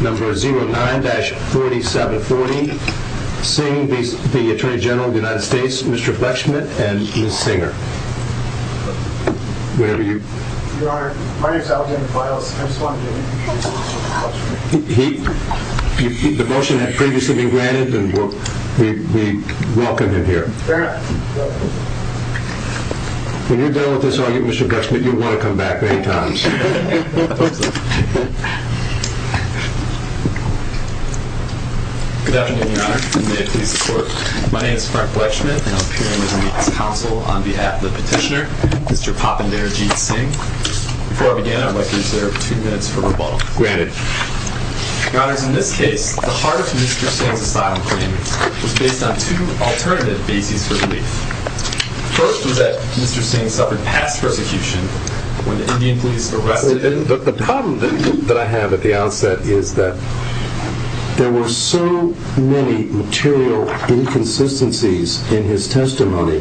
Number 09-4740 Singh, the Attorney General of the United States, Mr. Fletchman and Ms. Singer. Your Honor, my name is Alexander Files. I just want to do an interview with Mr. Fletchman. The motion had previously been granted and we welcome him here. Fair enough. When you're done with this argument Mr. Fletchman, you'll want to come back many times. Good afternoon, Your Honor, and may it please the Court. My name is Frank Fletchman and I'm here on behalf of the petitioner, Mr. Papandherji Singh. Before I begin, I'd like to reserve two minutes for rebuttal. Granted. Your Honors, in this case, the heart of Mr. Singh's asylum claim was based on two alternative bases for belief. First was that Mr. Singh suffered past persecution when the Indian police arrested him. The problem that I have at the outset is that there were so many material inconsistencies in his testimony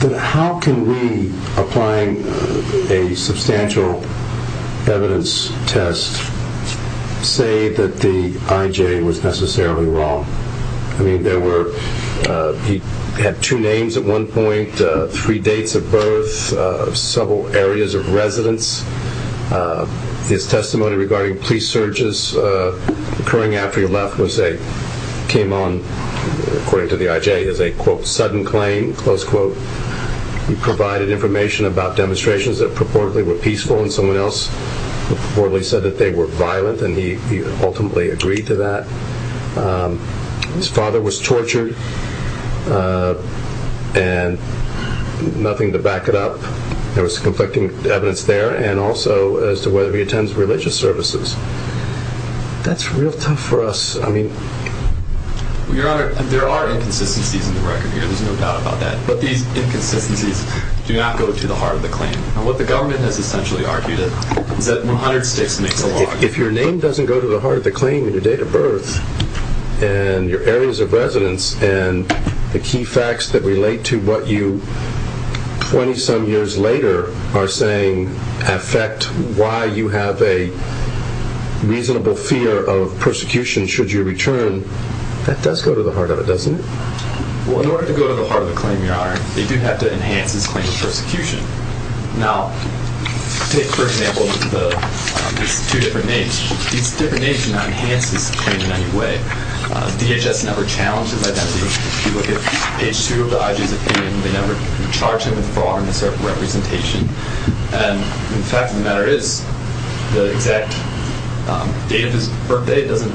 that how can we, applying a substantial evidence test, say that the IJ was necessarily wrong? He had two names at one point, three dates of birth, several areas of residence. His testimony regarding police searches occurring after he left came on, according to the IJ, as a quote, sudden claim, close quote. He provided information about demonstrations that purportedly were peaceful and someone else purportedly said that they were violent and he ultimately agreed to that. His father was tortured and nothing to back it up. There was conflicting evidence there and also as to whether he attends religious services. That's real tough for us. I mean... Your Honor, there are inconsistencies in the record here. There's no doubt about that. But these inconsistencies do not go to the heart of the claim. What the government has essentially argued is that 100 sticks makes a log. If your name doesn't go to the heart of the claim and your date of birth and your areas of residence and the key facts that relate to what you 20-some years later are saying affect why you have a reasonable fear of persecution should you return, that does go to the heart of it, doesn't it? Well, in order to go to the heart of the claim, Your Honor, they do have to enhance this claim of persecution. Now, take for example these two different names. These different names do not enhance this claim in any way. DHS never challenges identity. If you look at page 2 of the IG's opinion, they never charge him with fraud or misrepresentation. And the fact of the matter is the exact date of his birthday doesn't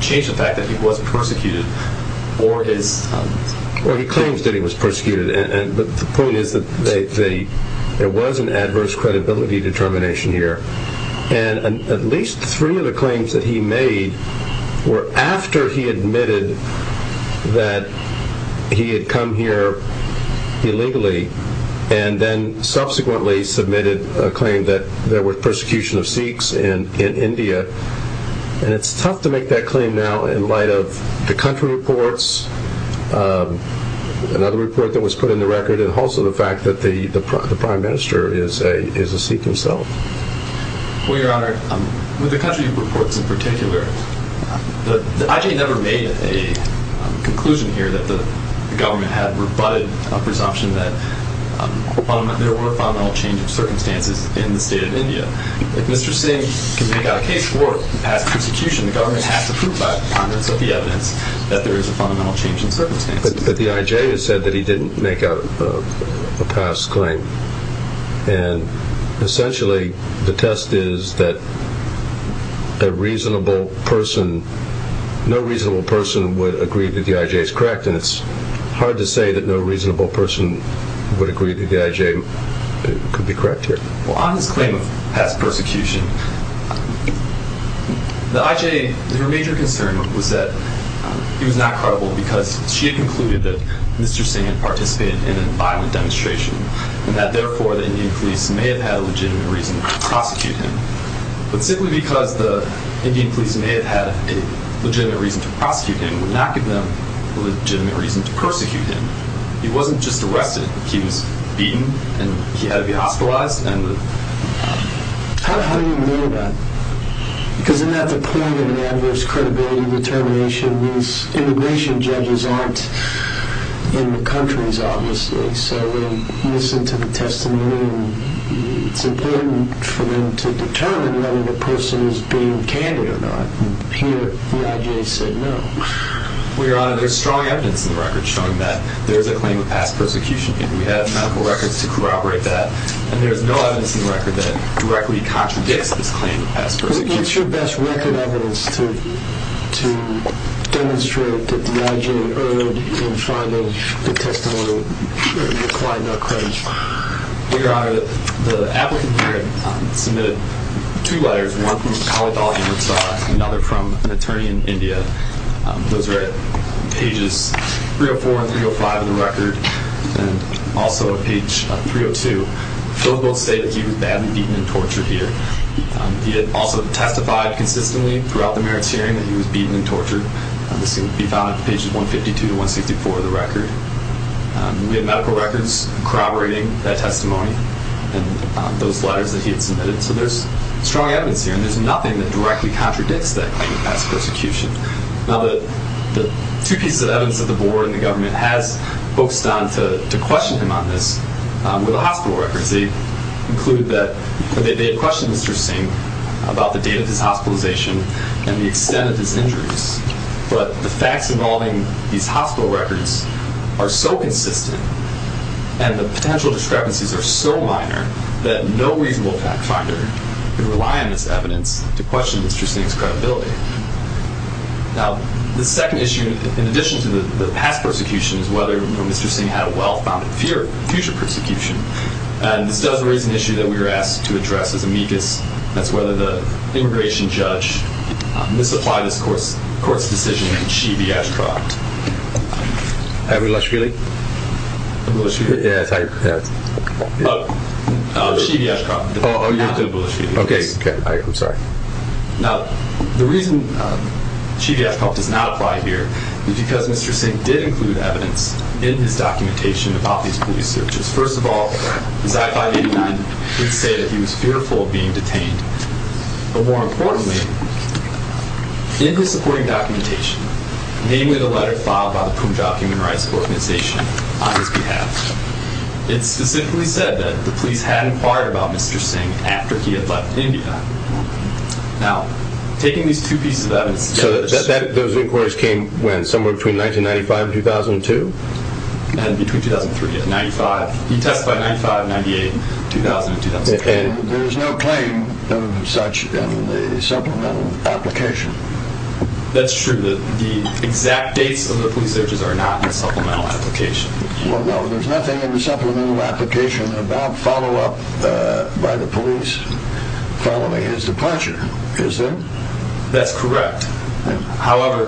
change the fact that he was persecuted. Well, he claims that he was persecuted. But the point is that there was an adverse credibility determination here. And at least three of the claims that he made were after he admitted that he had come here illegally and then subsequently submitted a claim that there was persecution of Sikhs in India. And it's tough to make that claim now in light of the country reports, another report that was put in the record, and also the fact that the prime minister is a Sikh himself. Well, Your Honor, with the country reports in particular, the IG never made a conclusion here that the government had rebutted a presumption that there were fundamental change of circumstances in the state of India. But if Mr. Singh can make out a case for past persecution, the government has to prove by ponderance of the evidence that there is a fundamental change in circumstances. But the IJ has said that he didn't make out a past claim. And essentially the test is that a reasonable person, no reasonable person would agree that the IJ is correct. And it's hard to say that no reasonable person would agree that the IJ could be correct here. Well, on his claim of past persecution, the IJ, her major concern was that he was not credible because she had concluded that Mr. Singh had participated in a violent demonstration and that therefore the Indian police may have had a legitimate reason to prosecute him. But simply because the Indian police may have had a legitimate reason to prosecute him would not give them a legitimate reason to persecute him. He wasn't just arrested, he was beaten and he had to be hospitalized. How do you know that? Because isn't that the point of an adverse credibility determination? These immigration judges aren't in the countries, obviously, so they listen to the testimony and it's important for them to determine whether the person is being candid or not. Here, the IJ said no. Your Honor, there's strong evidence in the record showing that there's a claim of past persecution and we have medical records to corroborate that. And there's no evidence in the record that directly contradicts this claim of past persecution. What's your best record evidence to demonstrate that the IJ erred in finding the testimony requiring our credit? Your Honor, the applicant here submitted two letters. There's one from the college audience and another from an attorney in India. Those are at pages 304 and 305 of the record and also at page 302. Both say that he was badly beaten and tortured here. He had also testified consistently throughout the merits hearing that he was beaten and tortured. This can be found at pages 152 to 164 of the record. We have medical records corroborating that testimony and those letters that he had submitted. So there's strong evidence here and there's nothing that directly contradicts that claim of past persecution. Now, the two pieces of evidence that the board and the government has focused on to question him on this were the hospital records. They include that they had questioned Mr. Singh about the date of his hospitalization and the extent of his injuries. But the facts involving these hospital records are so consistent and the potential discrepancies are so minor that no reasonable fact finder can rely on this evidence to question Mr. Singh's credibility. Now, the second issue, in addition to the past persecution, is whether Mr. Singh had a well-founded future persecution. And this does raise an issue that we were asked to address as amicus. That's whether the immigration judge misapplied this court's decision and she be asked for an act. Hi, Abulashvili. Abulashvili? Yes, hi. Oh, Shivya Ashraf. Oh, you're into Abulashvili. Okay. Okay, I'm sorry. Now, the reason Shivya Ashraf does not apply here is because Mr. Singh did include evidence in his documentation about these police searches. First of all, his I-589 would say that he was fearful of being detained. But more importantly, in his supporting documentation, namely the letter filed by the Punjab Human Rights Organization on his behalf, it specifically said that the police had inquired about Mr. Singh after he had left India. Now, taking these two pieces of evidence together... So those inquiries came when, somewhere between 1995 and 2002? Between 2003 and 95. He testified in 95, 98, 2000, and 2004. And there's no claim of such in the supplemental application? That's true. The exact dates of the police searches are not in the supplemental application. Well, no, there's nothing in the supplemental application about follow-up by the police following his departure, is there? That's correct. However,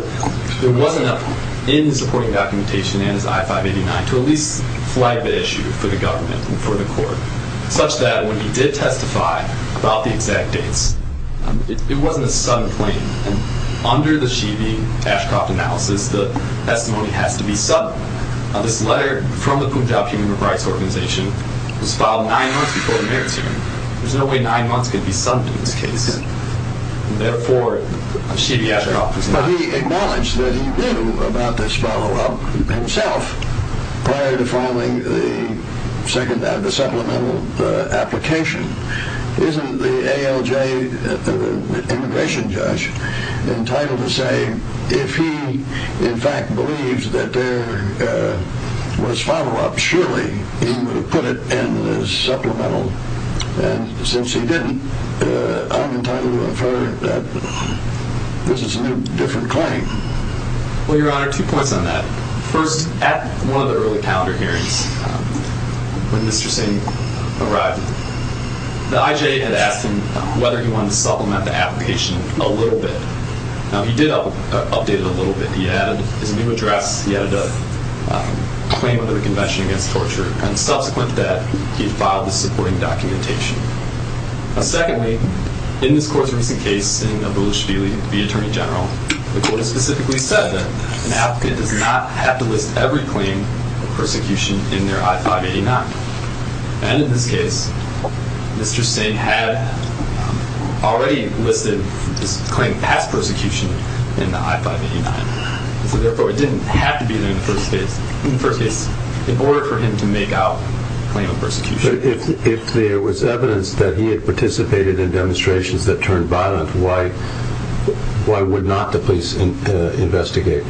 there was enough in the supporting documentation in his I-589 to at least flag the issue for the government and for the court, such that when he did testify about the exact dates, it wasn't a sudden claim. Under the Shibi-Ashcroft analysis, the testimony has to be sudden. Now, this letter from the Punjab Human Rights Organization was filed nine months before the merits hearing. There's no way nine months could be sudden in this case. Therefore, Shibi-Ashcroft was not... But he acknowledged that he knew about this follow-up himself prior to filing the supplemental application. Isn't the ALJ immigration judge entitled to say, if he, in fact, believes that there was follow-up, surely he would have put it in the supplemental? And since he didn't, I'm entitled to infer that this is a new, different claim. Well, Your Honor, two points on that. First, at one of the early calendar hearings, when Mr. Singh arrived, the IJA had asked him whether he wanted to supplement the application a little bit. Now, he did update it a little bit. He added his new address. He added a claim under the Convention Against Torture, and subsequent to that, he had filed the supporting documentation. Now, secondly, in this court's recent case in Abula Shafili v. Attorney General, the court has specifically said that an applicant does not have to list every claim of persecution in their I-589. And in this case, Mr. Singh had already listed his claim past persecution in the I-589. So therefore, it didn't have to be there in the first case in order for him to make out a claim of persecution. If there was evidence that he had participated in demonstrations that turned violent, why would not the police investigate?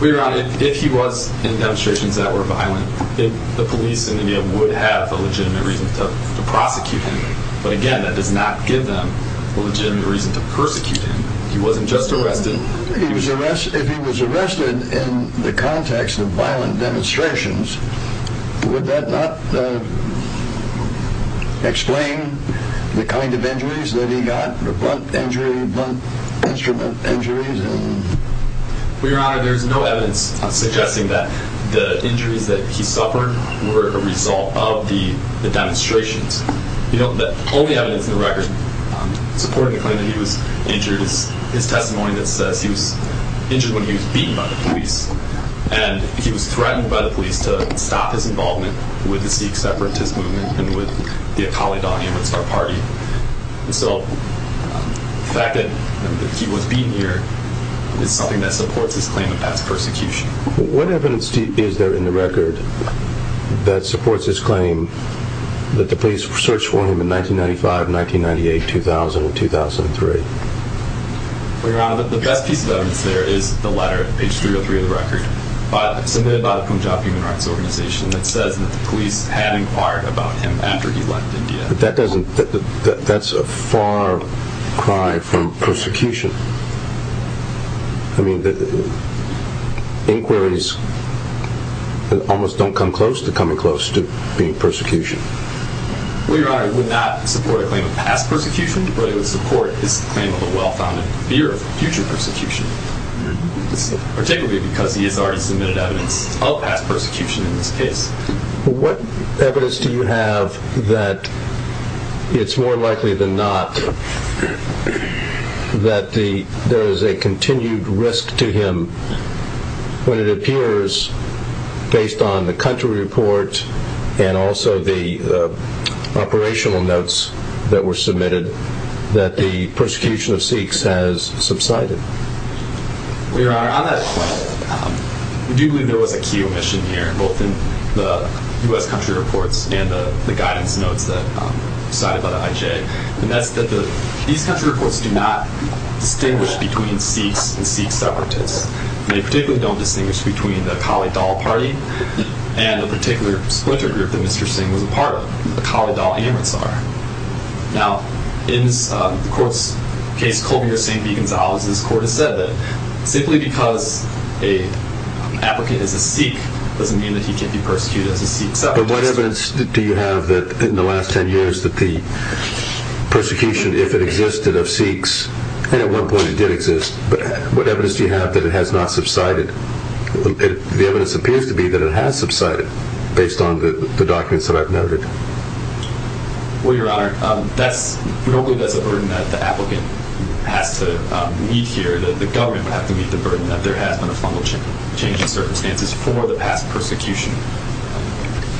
Well, Your Honor, if he was in demonstrations that were violent, the police in India would have a legitimate reason to prosecute him. But again, that does not give them a legitimate reason to persecute him. He wasn't just arrested. If he was arrested in the context of violent demonstrations, would that not explain the kind of injuries that he got, the blunt injury, blunt instrument injuries? Well, Your Honor, there's no evidence suggesting that the injuries that he suffered were a result of the demonstrations. The only evidence in the record supporting the claim that he was injured is his testimony that says he was injured when he was beaten by the police, and he was threatened by the police to stop his involvement with the Sikh separatist movement and with the Akali Daan Amritsar party. So the fact that he was beaten here is something that supports his claim of past persecution. What evidence is there in the record that supports his claim that the police searched for him in 1995, 1998, 2000, and 2003? Well, Your Honor, the best piece of evidence there is the letter, page 303 of the record, submitted by the Punjab Human Rights Organization that says that the police had inquired about him after he left India. But that's a far cry from persecution. I mean, inquiries almost don't come close to coming close to being persecution. Well, Your Honor, it would not support a claim of past persecution, but it would support his claim of a well-founded fear of future persecution, particularly because he has already submitted evidence of past persecution in this case. What evidence do you have that it's more likely than not that there is a continued risk to him when it appears, based on the country report and also the operational notes that were submitted, that the persecution of Sikhs has subsided? Well, Your Honor, on that point, we do believe there was a key omission here, both in the U.S. country reports and the guidance notes that were cited by the IJ. And that's that these country reports do not distinguish between Sikhs and Sikh separatists. They particularly don't distinguish between the Kalidaw party and a particular splinter group that Mr. Singh was a part of, the Kalidaw Amritsar. Now, in the court's case, Colby v. St. V. Gonzalez, this court has said that simply because an applicant is a Sikh doesn't mean that he can't be persecuted as a Sikh separatist. But what evidence do you have that in the last 10 years that the persecution, if it existed, of Sikhs, and at one point it did exist, what evidence do you have that it has not subsided? The evidence appears to be that it has subsided, based on the documents that I've noted. Well, Your Honor, we don't believe that's a burden that the applicant has to meet here. The government would have to meet the burden that there has been a fundamental change in circumstances for the past persecution.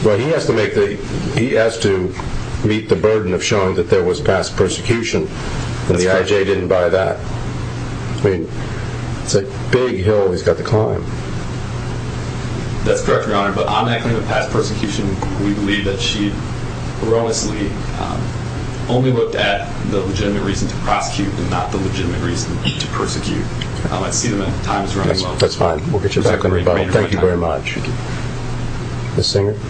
Well, he has to meet the burden of showing that there was past persecution, and the IJ didn't buy that. I mean, it's a big hill he's got to climb. That's correct, Your Honor, but on that claim of past persecution, we believe that she erroneously only looked at the legitimate reason to prosecute and not the legitimate reason to persecute. I see that time is running low. That's fine. We'll get you back on rebuttal. Thank you very much. Ms. Singer. Good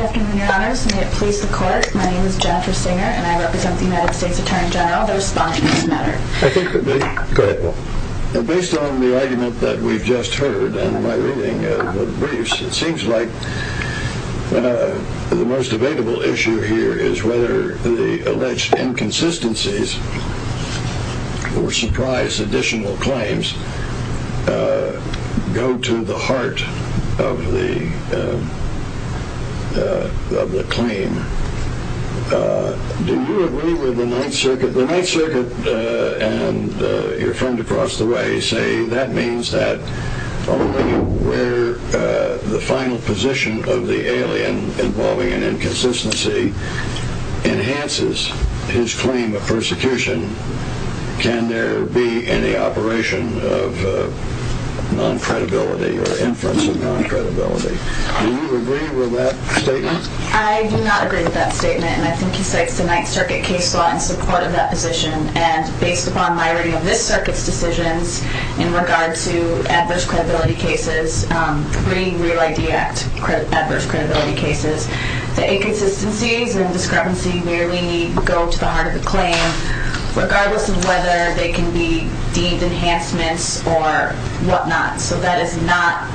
afternoon, Your Honors. May it please the Court, my name is Jennifer Singer, and I represent the United States Attorney General. I'll respond to this matter. I think that based on the argument that we've just heard and my reading of the briefs, it seems like the most debatable issue here is whether the alleged inconsistencies or surprise additional claims go to the heart of the claim. Do you agree with the Ninth Circuit? The Ninth Circuit and your friend across the way say that means that only where the final position of the alien involving an inconsistency enhances his claim of persecution can there be any operation of non-credibility or inference of non-credibility. Do you agree with that statement? I do not agree with that statement, and I think he cites the Ninth Circuit case law in support of that position, and based upon my reading of this Circuit's decisions in regard to adverse credibility cases, pre-Real ID Act adverse credibility cases, the inconsistencies and discrepancy merely go to the heart of the claim, regardless of whether they can be deemed enhancements or whatnot. So that is not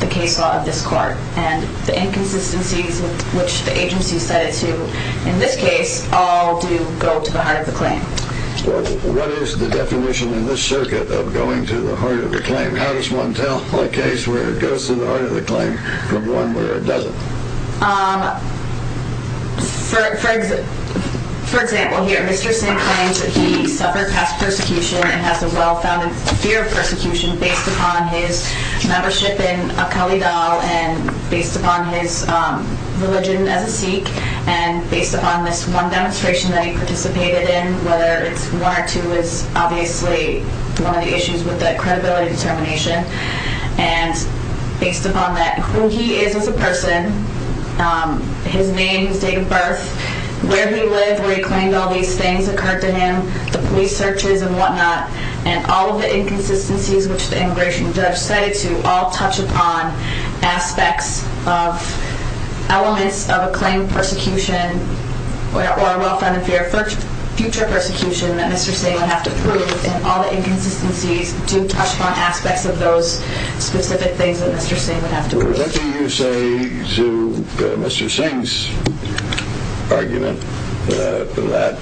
the case law of this Court, and the inconsistencies which the agency set it to in this case all do go to the heart of the claim. What is the definition in this Circuit of going to the heart of the claim? How does one tell a case where it goes to the heart of the claim from one where it doesn't? For example, here, Mr. Singh claims that he suffered past persecution and has a well-founded fear of persecution based upon his membership in Al-Qaeda and based upon his religion as a Sikh, and based upon this one demonstration that he participated in, whether it's one or two, is obviously one of the issues with the credibility determination, and based upon that, who he is as a person, his name, his date of birth, where he lived, where he claimed all these things occurred to him, the police searches and whatnot, and all of the inconsistencies which the immigration judge set it to all touch upon aspects of elements of a claim of persecution or a well-founded fear of future persecution that Mr. Singh would have to prove, and all the inconsistencies do touch upon aspects of those specific things that Mr. Singh would have to prove. What do you say to Mr. Singh's argument in that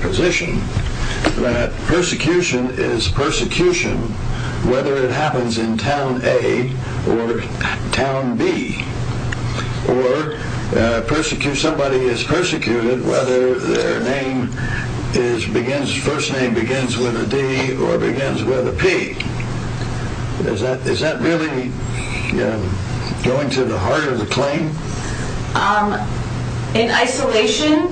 position that persecution is persecution whether it happens in Town A or Town B, or somebody is persecuted whether their first name begins with a D or begins with a P? Is that really going to the heart of the claim? In isolation,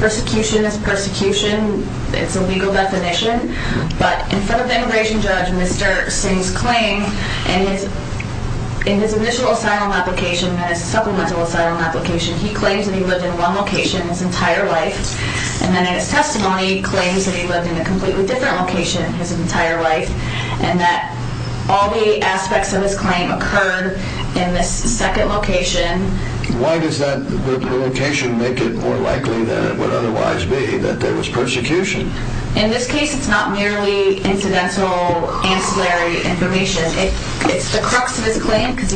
persecution is persecution. It's a legal definition. But in front of the immigration judge, Mr. Singh's claim in his initial asylum application and his supplemental asylum application, he claims that he lived in one location his entire life, and then in his testimony, he claims that he lived in a completely different location his entire life, and that all the aspects of his claim occurred in this second location. Why does that location make it more likely than it would otherwise be that there was persecution? In this case, it's not merely incidental, ancillary information. It's the crux of his claim because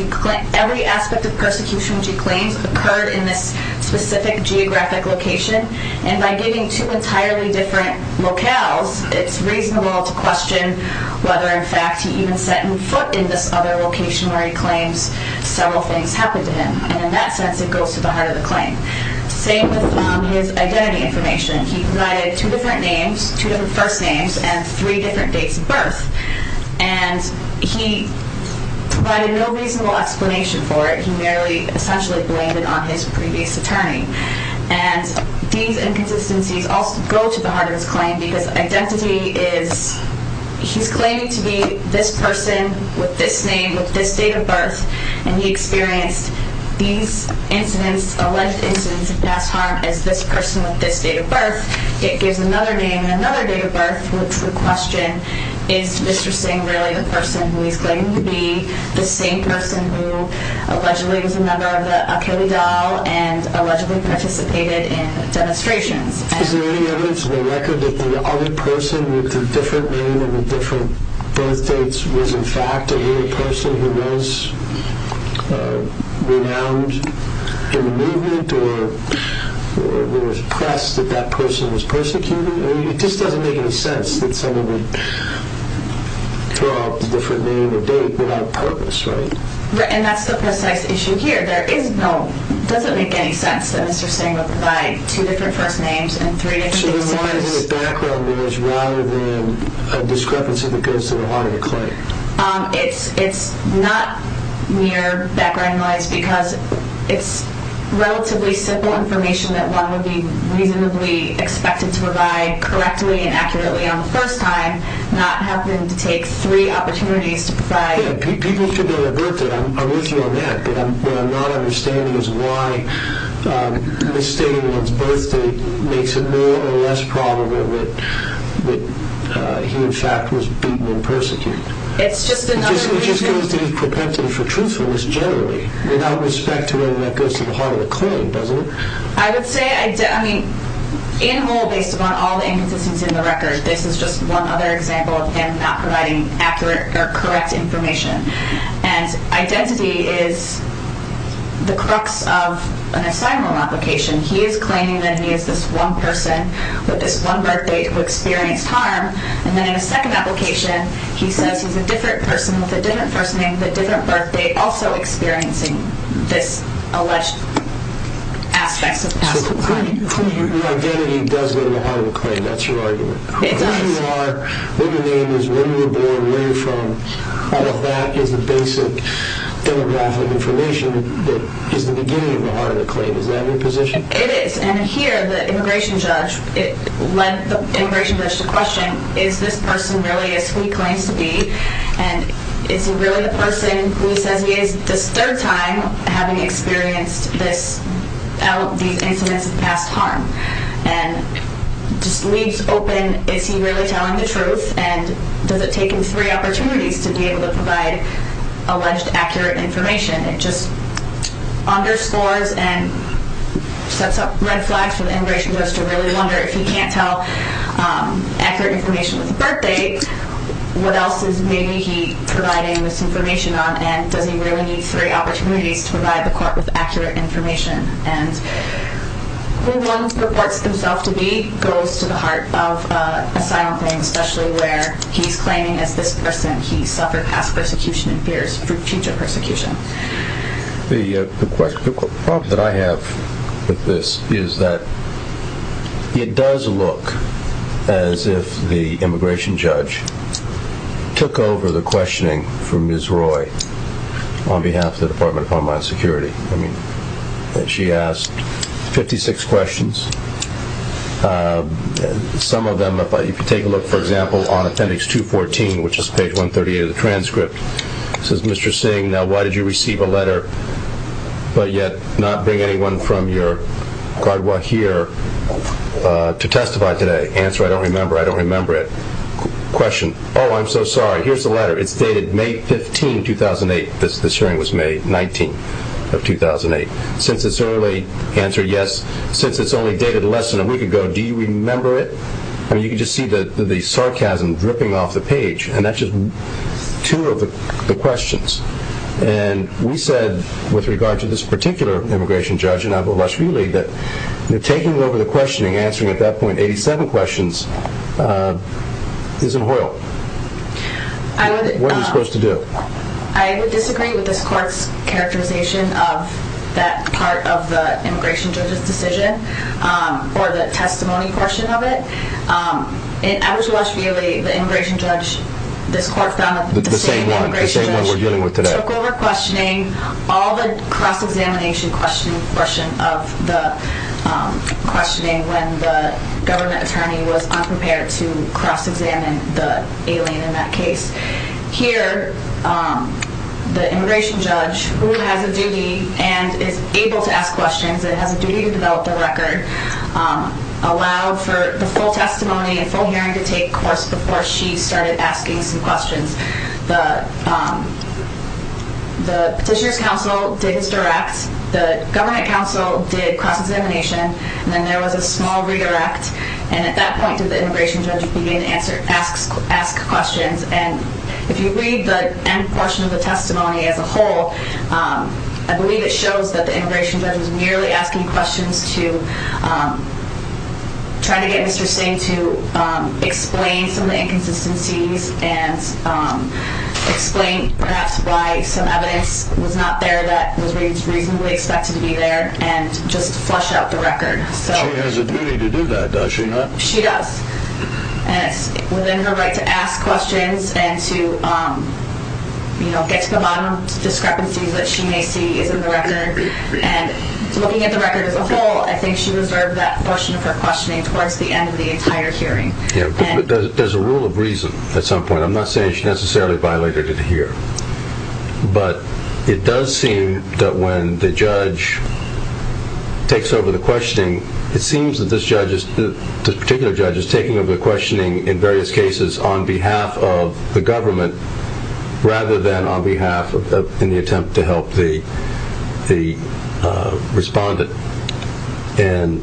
every aspect of persecution which he claims occurred in this specific geographic location, and by giving two entirely different locales, it's reasonable to question whether in fact he even set foot in this other location where he claims several things happened to him. And in that sense, it goes to the heart of the claim. Same with his identity information. He provided two different names, two different first names, and three different dates of birth, and he provided no reasonable explanation for it. He merely essentially blamed it on his previous attorney. And these inconsistencies also go to the heart of his claim because identity is, he's claiming to be this person with this name, with this date of birth, and he experienced these incidents, alleged incidents of past harm as this person with this date of birth. It gives another name and another date of birth, which would question, is Mr. Singh really the person who he's claiming to be, the same person who allegedly was a member of the Akeli Dal and allegedly participated in demonstrations? Is there any evidence on the record that the other person with the different name and the different birth dates was in fact a person who was renowned in the movement, or there was press that that person was persecuted? It just doesn't make any sense that someone would throw out the different name and date without purpose, right? And that's the precise issue here. There is no, it doesn't make any sense that Mr. Singh would provide two different first names and three different dates of birth. So then why is it background noise rather than a discrepancy that goes to the heart of the claim? It's not mere background noise because it's relatively simple information that one would be reasonably expected to provide correctly and accurately on the first time, not having to take three opportunities to provide... Yeah, people should know their birth date, I'm with you on that, but what I'm not understanding is why misstating one's birth date makes it more or less probable that he in fact was beaten and persecuted. It's just another... It just goes to his propensity for truthfulness generally, without respect to whether that goes to the heart of the claim, doesn't it? I would say, I mean, in whole, based upon all the inconsistencies in the record, this is just one other example of him not providing accurate or correct information. And identity is the crux of an asylum application. He is claiming that he is this one person with this one birth date who experienced harm, and then in a second application, he says he's a different person with a different first name, with a different birth date, also experiencing this alleged aspects of past crime. So the identity does go to the heart of the claim, that's your argument? It does. If you are, what your name is, where you were born, where you're from, all of that is the basic demographic information that is the beginning of the heart of the claim. Is that your position? It is. And here, the immigration judge, it led the immigration judge to question, is this person really as he claims to be? And is he really the person who he says he is this third time having experienced these incidents of past harm? And just leaves open, is he really telling the truth, and does it take him three opportunities to be able to provide alleged accurate information? It just underscores and sets up red flags for the immigration judge to really wonder, if he can't tell accurate information with the birth date, what else is maybe he providing misinformation on, and does he really need three opportunities to provide the court with accurate information? And who one purports himself to be goes to the heart of a silent claim, especially where he's claiming as this person he suffered past persecution and fears for future persecution. The problem that I have with this is that it does look as if the immigration judge took over the questioning from Ms. Roy on behalf of the Department of Homeland Security. I mean, she asked 56 questions. Some of them, if you take a look, for example, on appendix 214, which is page 138 of the transcript, it says, Mr. Singh, now why did you receive a letter, but yet not bring anyone from your guard here to testify today? Answer, I don't remember, I don't remember it. Question, oh, I'm so sorry, here's the letter. It's dated May 15, 2008. This hearing was May 19 of 2008. Since it's early, answer yes. Since it's only dated less than a week ago, do you remember it? I mean, you can just see the sarcasm dripping off the page, and that's just two of the questions. And we said with regard to this particular immigration judge, and I will let you lead, that taking over the questioning, answering at that point 87 questions, is unholy. What are you supposed to do? I would disagree with this court's characterization of that part of the immigration judge's decision or the testimony portion of it. I was watching the immigration judge, this court found that the same immigration judge took over questioning all the cross-examination question portion of the questioning when the government attorney was unprepared to cross-examine the alien in that case. Here, the immigration judge, who has a duty and is able to ask questions, and has a duty to develop the record, allowed for the full testimony and full hearing to take course before she started asking some questions. The petitioner's counsel did his direct, the government counsel did cross-examination, and then there was a small redirect, and at that point did the immigration judge begin to ask questions. And if you read the end portion of the testimony as a whole, I believe it shows that the immigration judge was merely asking questions to try to get Mr. Singh to explain some of the inconsistencies and explain perhaps why some evidence was not there that was reasonably expected to be there and just flush out the record. She has a duty to do that, does she not? She does. And it's within her right to ask questions and to get to the bottom of discrepancies that she may see is in the record. And looking at the record as a whole, I think she reserved that portion of her questioning towards the end of the entire hearing. Yeah, but there's a rule of reason at some point. I'm not saying she necessarily violated it here. But it does seem that when the judge takes over the questioning, it seems that this particular judge is taking over the questioning in various cases on behalf of the government rather than on behalf of any attempt to help the respondent. In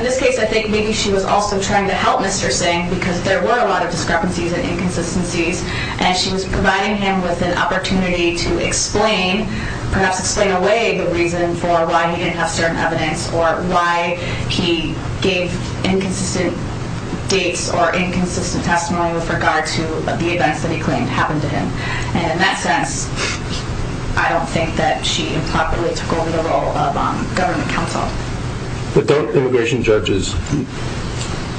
this case, I think maybe she was also trying to help Mr. Singh because there were a lot of discrepancies and inconsistencies. And she was providing him with an opportunity to explain, perhaps explain away the reason for why he didn't have certain evidence or why he gave inconsistent dates or inconsistent testimony with regard to the events that he claimed happened to him. And in that sense, I don't think that she improperly took over the role of government counsel. But don't immigration judges,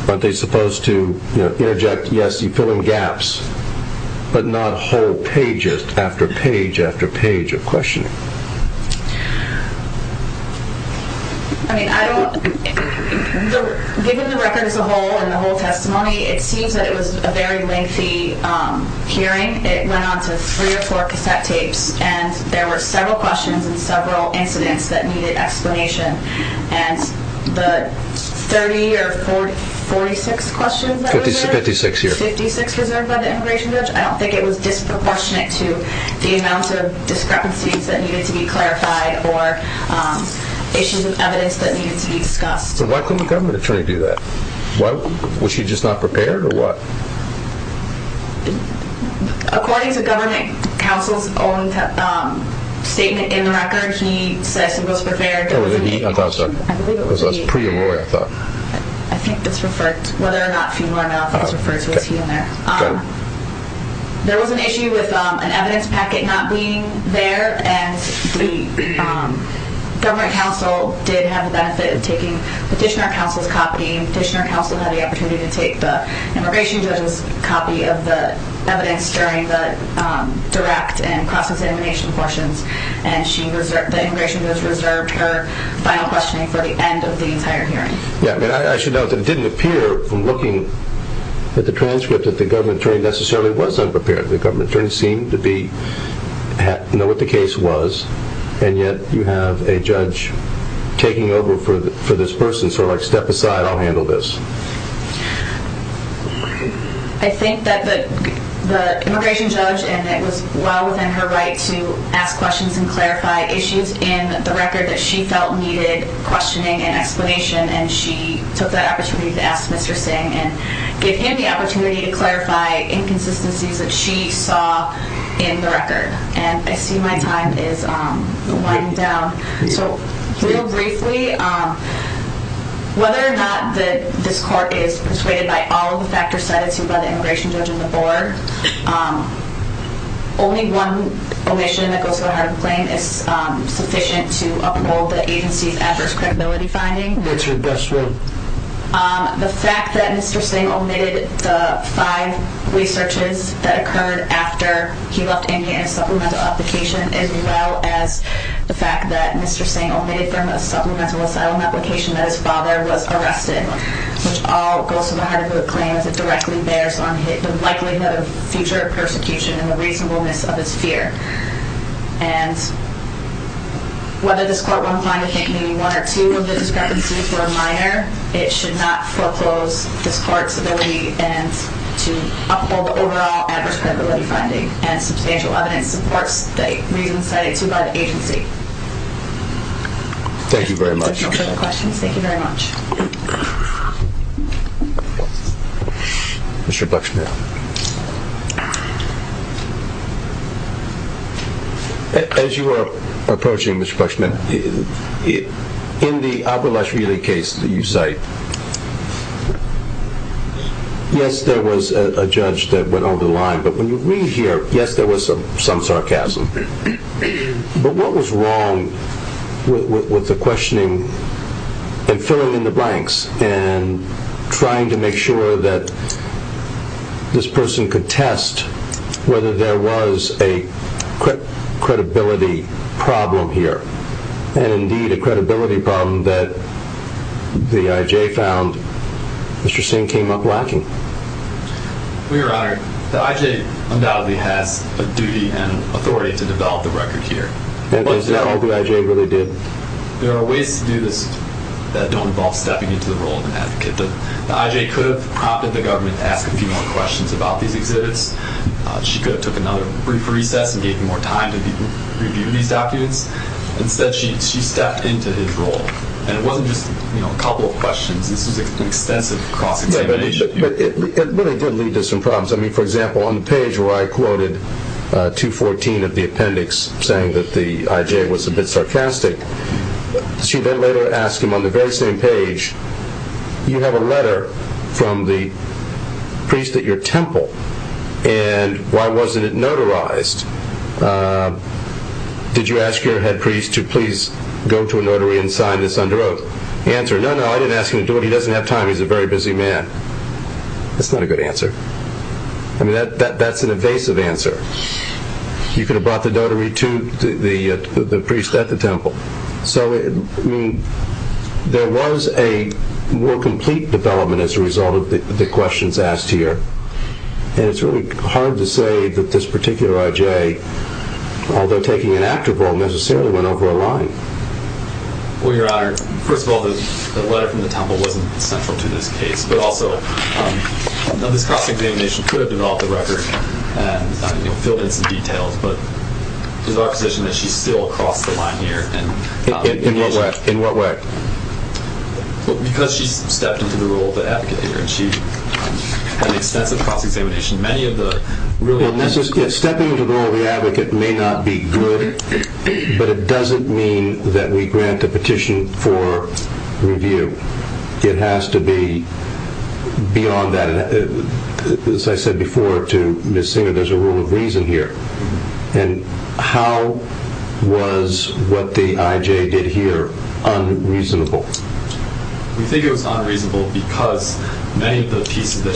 aren't they supposed to interject, yes, you fill in gaps, but not whole pages after page after page of questioning? Given the record as a whole and the whole testimony, it seems that it was a very lengthy hearing. It went on to three or four cassette tapes. And there were several questions and several incidents that needed explanation. And the 30 or 46 questions that were reserved? 56 here. 56 reserved by the immigration judge? I don't think it was disproportionate to the amount of discrepancies that needed to be clarified or issues of evidence that needed to be discussed. But why couldn't the government attorney do that? Was she just not prepared or what? According to government counsel's own statement in the record, he says he was prepared. There was an issue with an evidence packet not being there. And the government counsel did have the benefit of taking petitioner counsel's copy. Petitioner counsel had the opportunity to take the immigration judge's copy of the evidence during the direct and cross-examination portions. And the immigration judge reserved her final questioning for the end of the entire hearing. I should note that it didn't appear from looking at the transcript that the government attorney necessarily was unprepared. The government attorney seemed to know what the case was. And yet you have a judge taking over for this person, sort of like step aside, I'll handle this. I think that the immigration judge, and it was well within her right to ask questions and clarify issues in the record that she felt needed questioning and explanation. And she took that opportunity to ask Mr. Singh and give him the opportunity to clarify inconsistencies that she saw in the record. And I see my time is winding down. So, real briefly, whether or not this court is persuaded by all of the factors cited to by the immigration judge and the board, only one omission that goes to the hard of the claim is sufficient to uphold the agency's adverse credibility finding. That's right. The fact that Mr. Singh omitted the five researches that occurred after he left India in a supplemental application, as well as the fact that Mr. Singh omitted from a supplemental asylum application that his father was arrested, which all goes to the hard of the claim as it directly bears on the likelihood of future persecution and the reasonableness of his fear. And whether this court will find a hit, meaning one or two of the discrepancies were minor, it should not foreclose this court's ability to uphold the overall adverse credibility finding. And substantial evidence supports the reasons cited to by the agency. Thank you very much. If there are no further questions, thank you very much. Mr. Buxman. As you are approaching, Mr. Buxman, in the Abulashvili case that you cite, yes, there was a judge that went over the line, but when you read here, yes, there was some sarcasm. But what was wrong with the questioning and filling in the blanks and trying to make sure that this person could test whether there was a credibility problem here and indeed a credibility problem that the I.J. found Mr. Singh came up lacking? Well, Your Honor, the I.J. undoubtedly has a duty and authority to develop the record here. Is that all the I.J. really did? There are ways to do this that don't involve stepping into the role of an advocate. The I.J. could have prompted the government to ask a few more questions about these exhibits. She could have took another brief recess and gave you more time to review these documents. Instead, she stepped into his role. And it wasn't just a couple of questions. This was an extensive cross-examination. But it really did lead to some problems. I mean, for example, on the page where I quoted 214 of the appendix saying that the I.J. was a bit sarcastic, she then later asked him on the very same page, you have a letter from the priest at your temple and why wasn't it notarized? Did you ask your head priest to please go to a notary and sign this under oath? Answer, no, no, I didn't ask him to do it. He doesn't have time. He's a very busy man. That's not a good answer. I mean, that's an evasive answer. You could have brought the priest at the temple. So, I mean, there was a more complete development as a result of the questions asked here. And it's really hard to say that this particular I.J., although taking an active role, necessarily went over a line. Well, Your Honor, first of all, the letter from the temple wasn't central to this case. But also, this cross-examination could have developed a record and filled in some details. But it's our position that she's still across the line here. In what way? Because she's stepped into the role of the advocate here and she had an extensive cross-examination. Many of the... Stepping into the role of the advocate may not be good, but it doesn't mean that we grant a petition for review. It has to be beyond that. As I said before to Ms. Singer, there's a rule of reason here. And how was what the I.J. did here unreasonable? We think it was unreasonable because many of the pieces of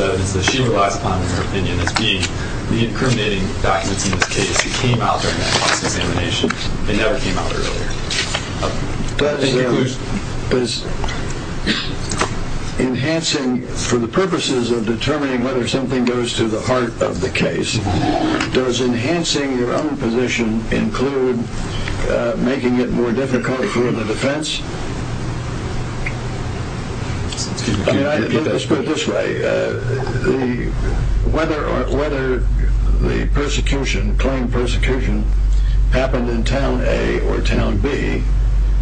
evidence that she relies upon, in her opinion, is the incriminating documents in this case that came out during that cross-examination. They never came out earlier. Does... Enhancing... For the purposes of determining whether something goes to the heart of the case, does enhancing your own position include making it more difficult for the defense? Let's put it this way. Whether the persecution, claim persecution happened in Town A or Town B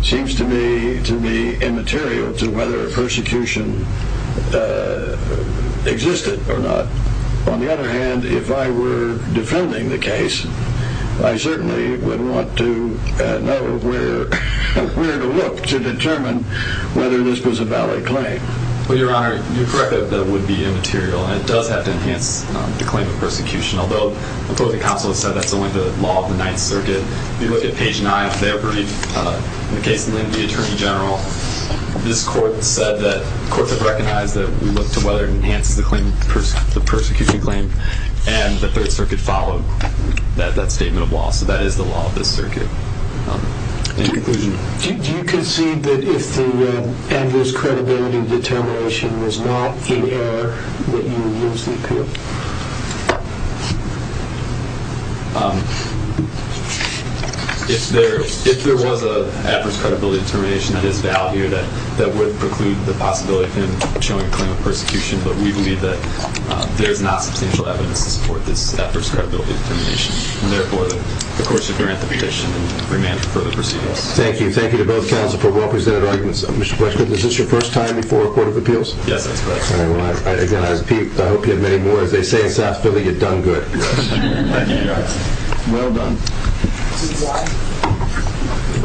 seems to be immaterial to whether persecution existed or not. On the other hand, if I were defending the case, I certainly would want to know where to look to determine whether this was a valid claim. Well, Your Honor, you're correct that it would be immaterial and it does have to enhance the claim of persecution, although the court of counsel has said that's only the law of the Ninth Circuit. If you look at page 9 of their brief, the case linked to the Attorney General, this court said that, courts have recognized that we look to whether it enhances the claim, the persecution claim, and the Third Circuit followed that statement of law. So that is the law of this circuit. Any conclusions? Do you concede that if the ambulance credibility determination was not in error, that you would lose the appeal? If there was an adverse credibility determination, that is valid here, that would preclude the possibility of him showing a claim of persecution, but we believe that there is not substantial evidence to support this adverse credibility determination. And therefore, the courts should grant the petition and remand for further proceedings. Thank you. Thank you to both counsel for well-presented arguments. Mr. Bletchley, is this your first time before a court of appeals? Yes, that's correct. Again, I hope you have many more. As they say in South Philly, you've done good. Thank you. Well done.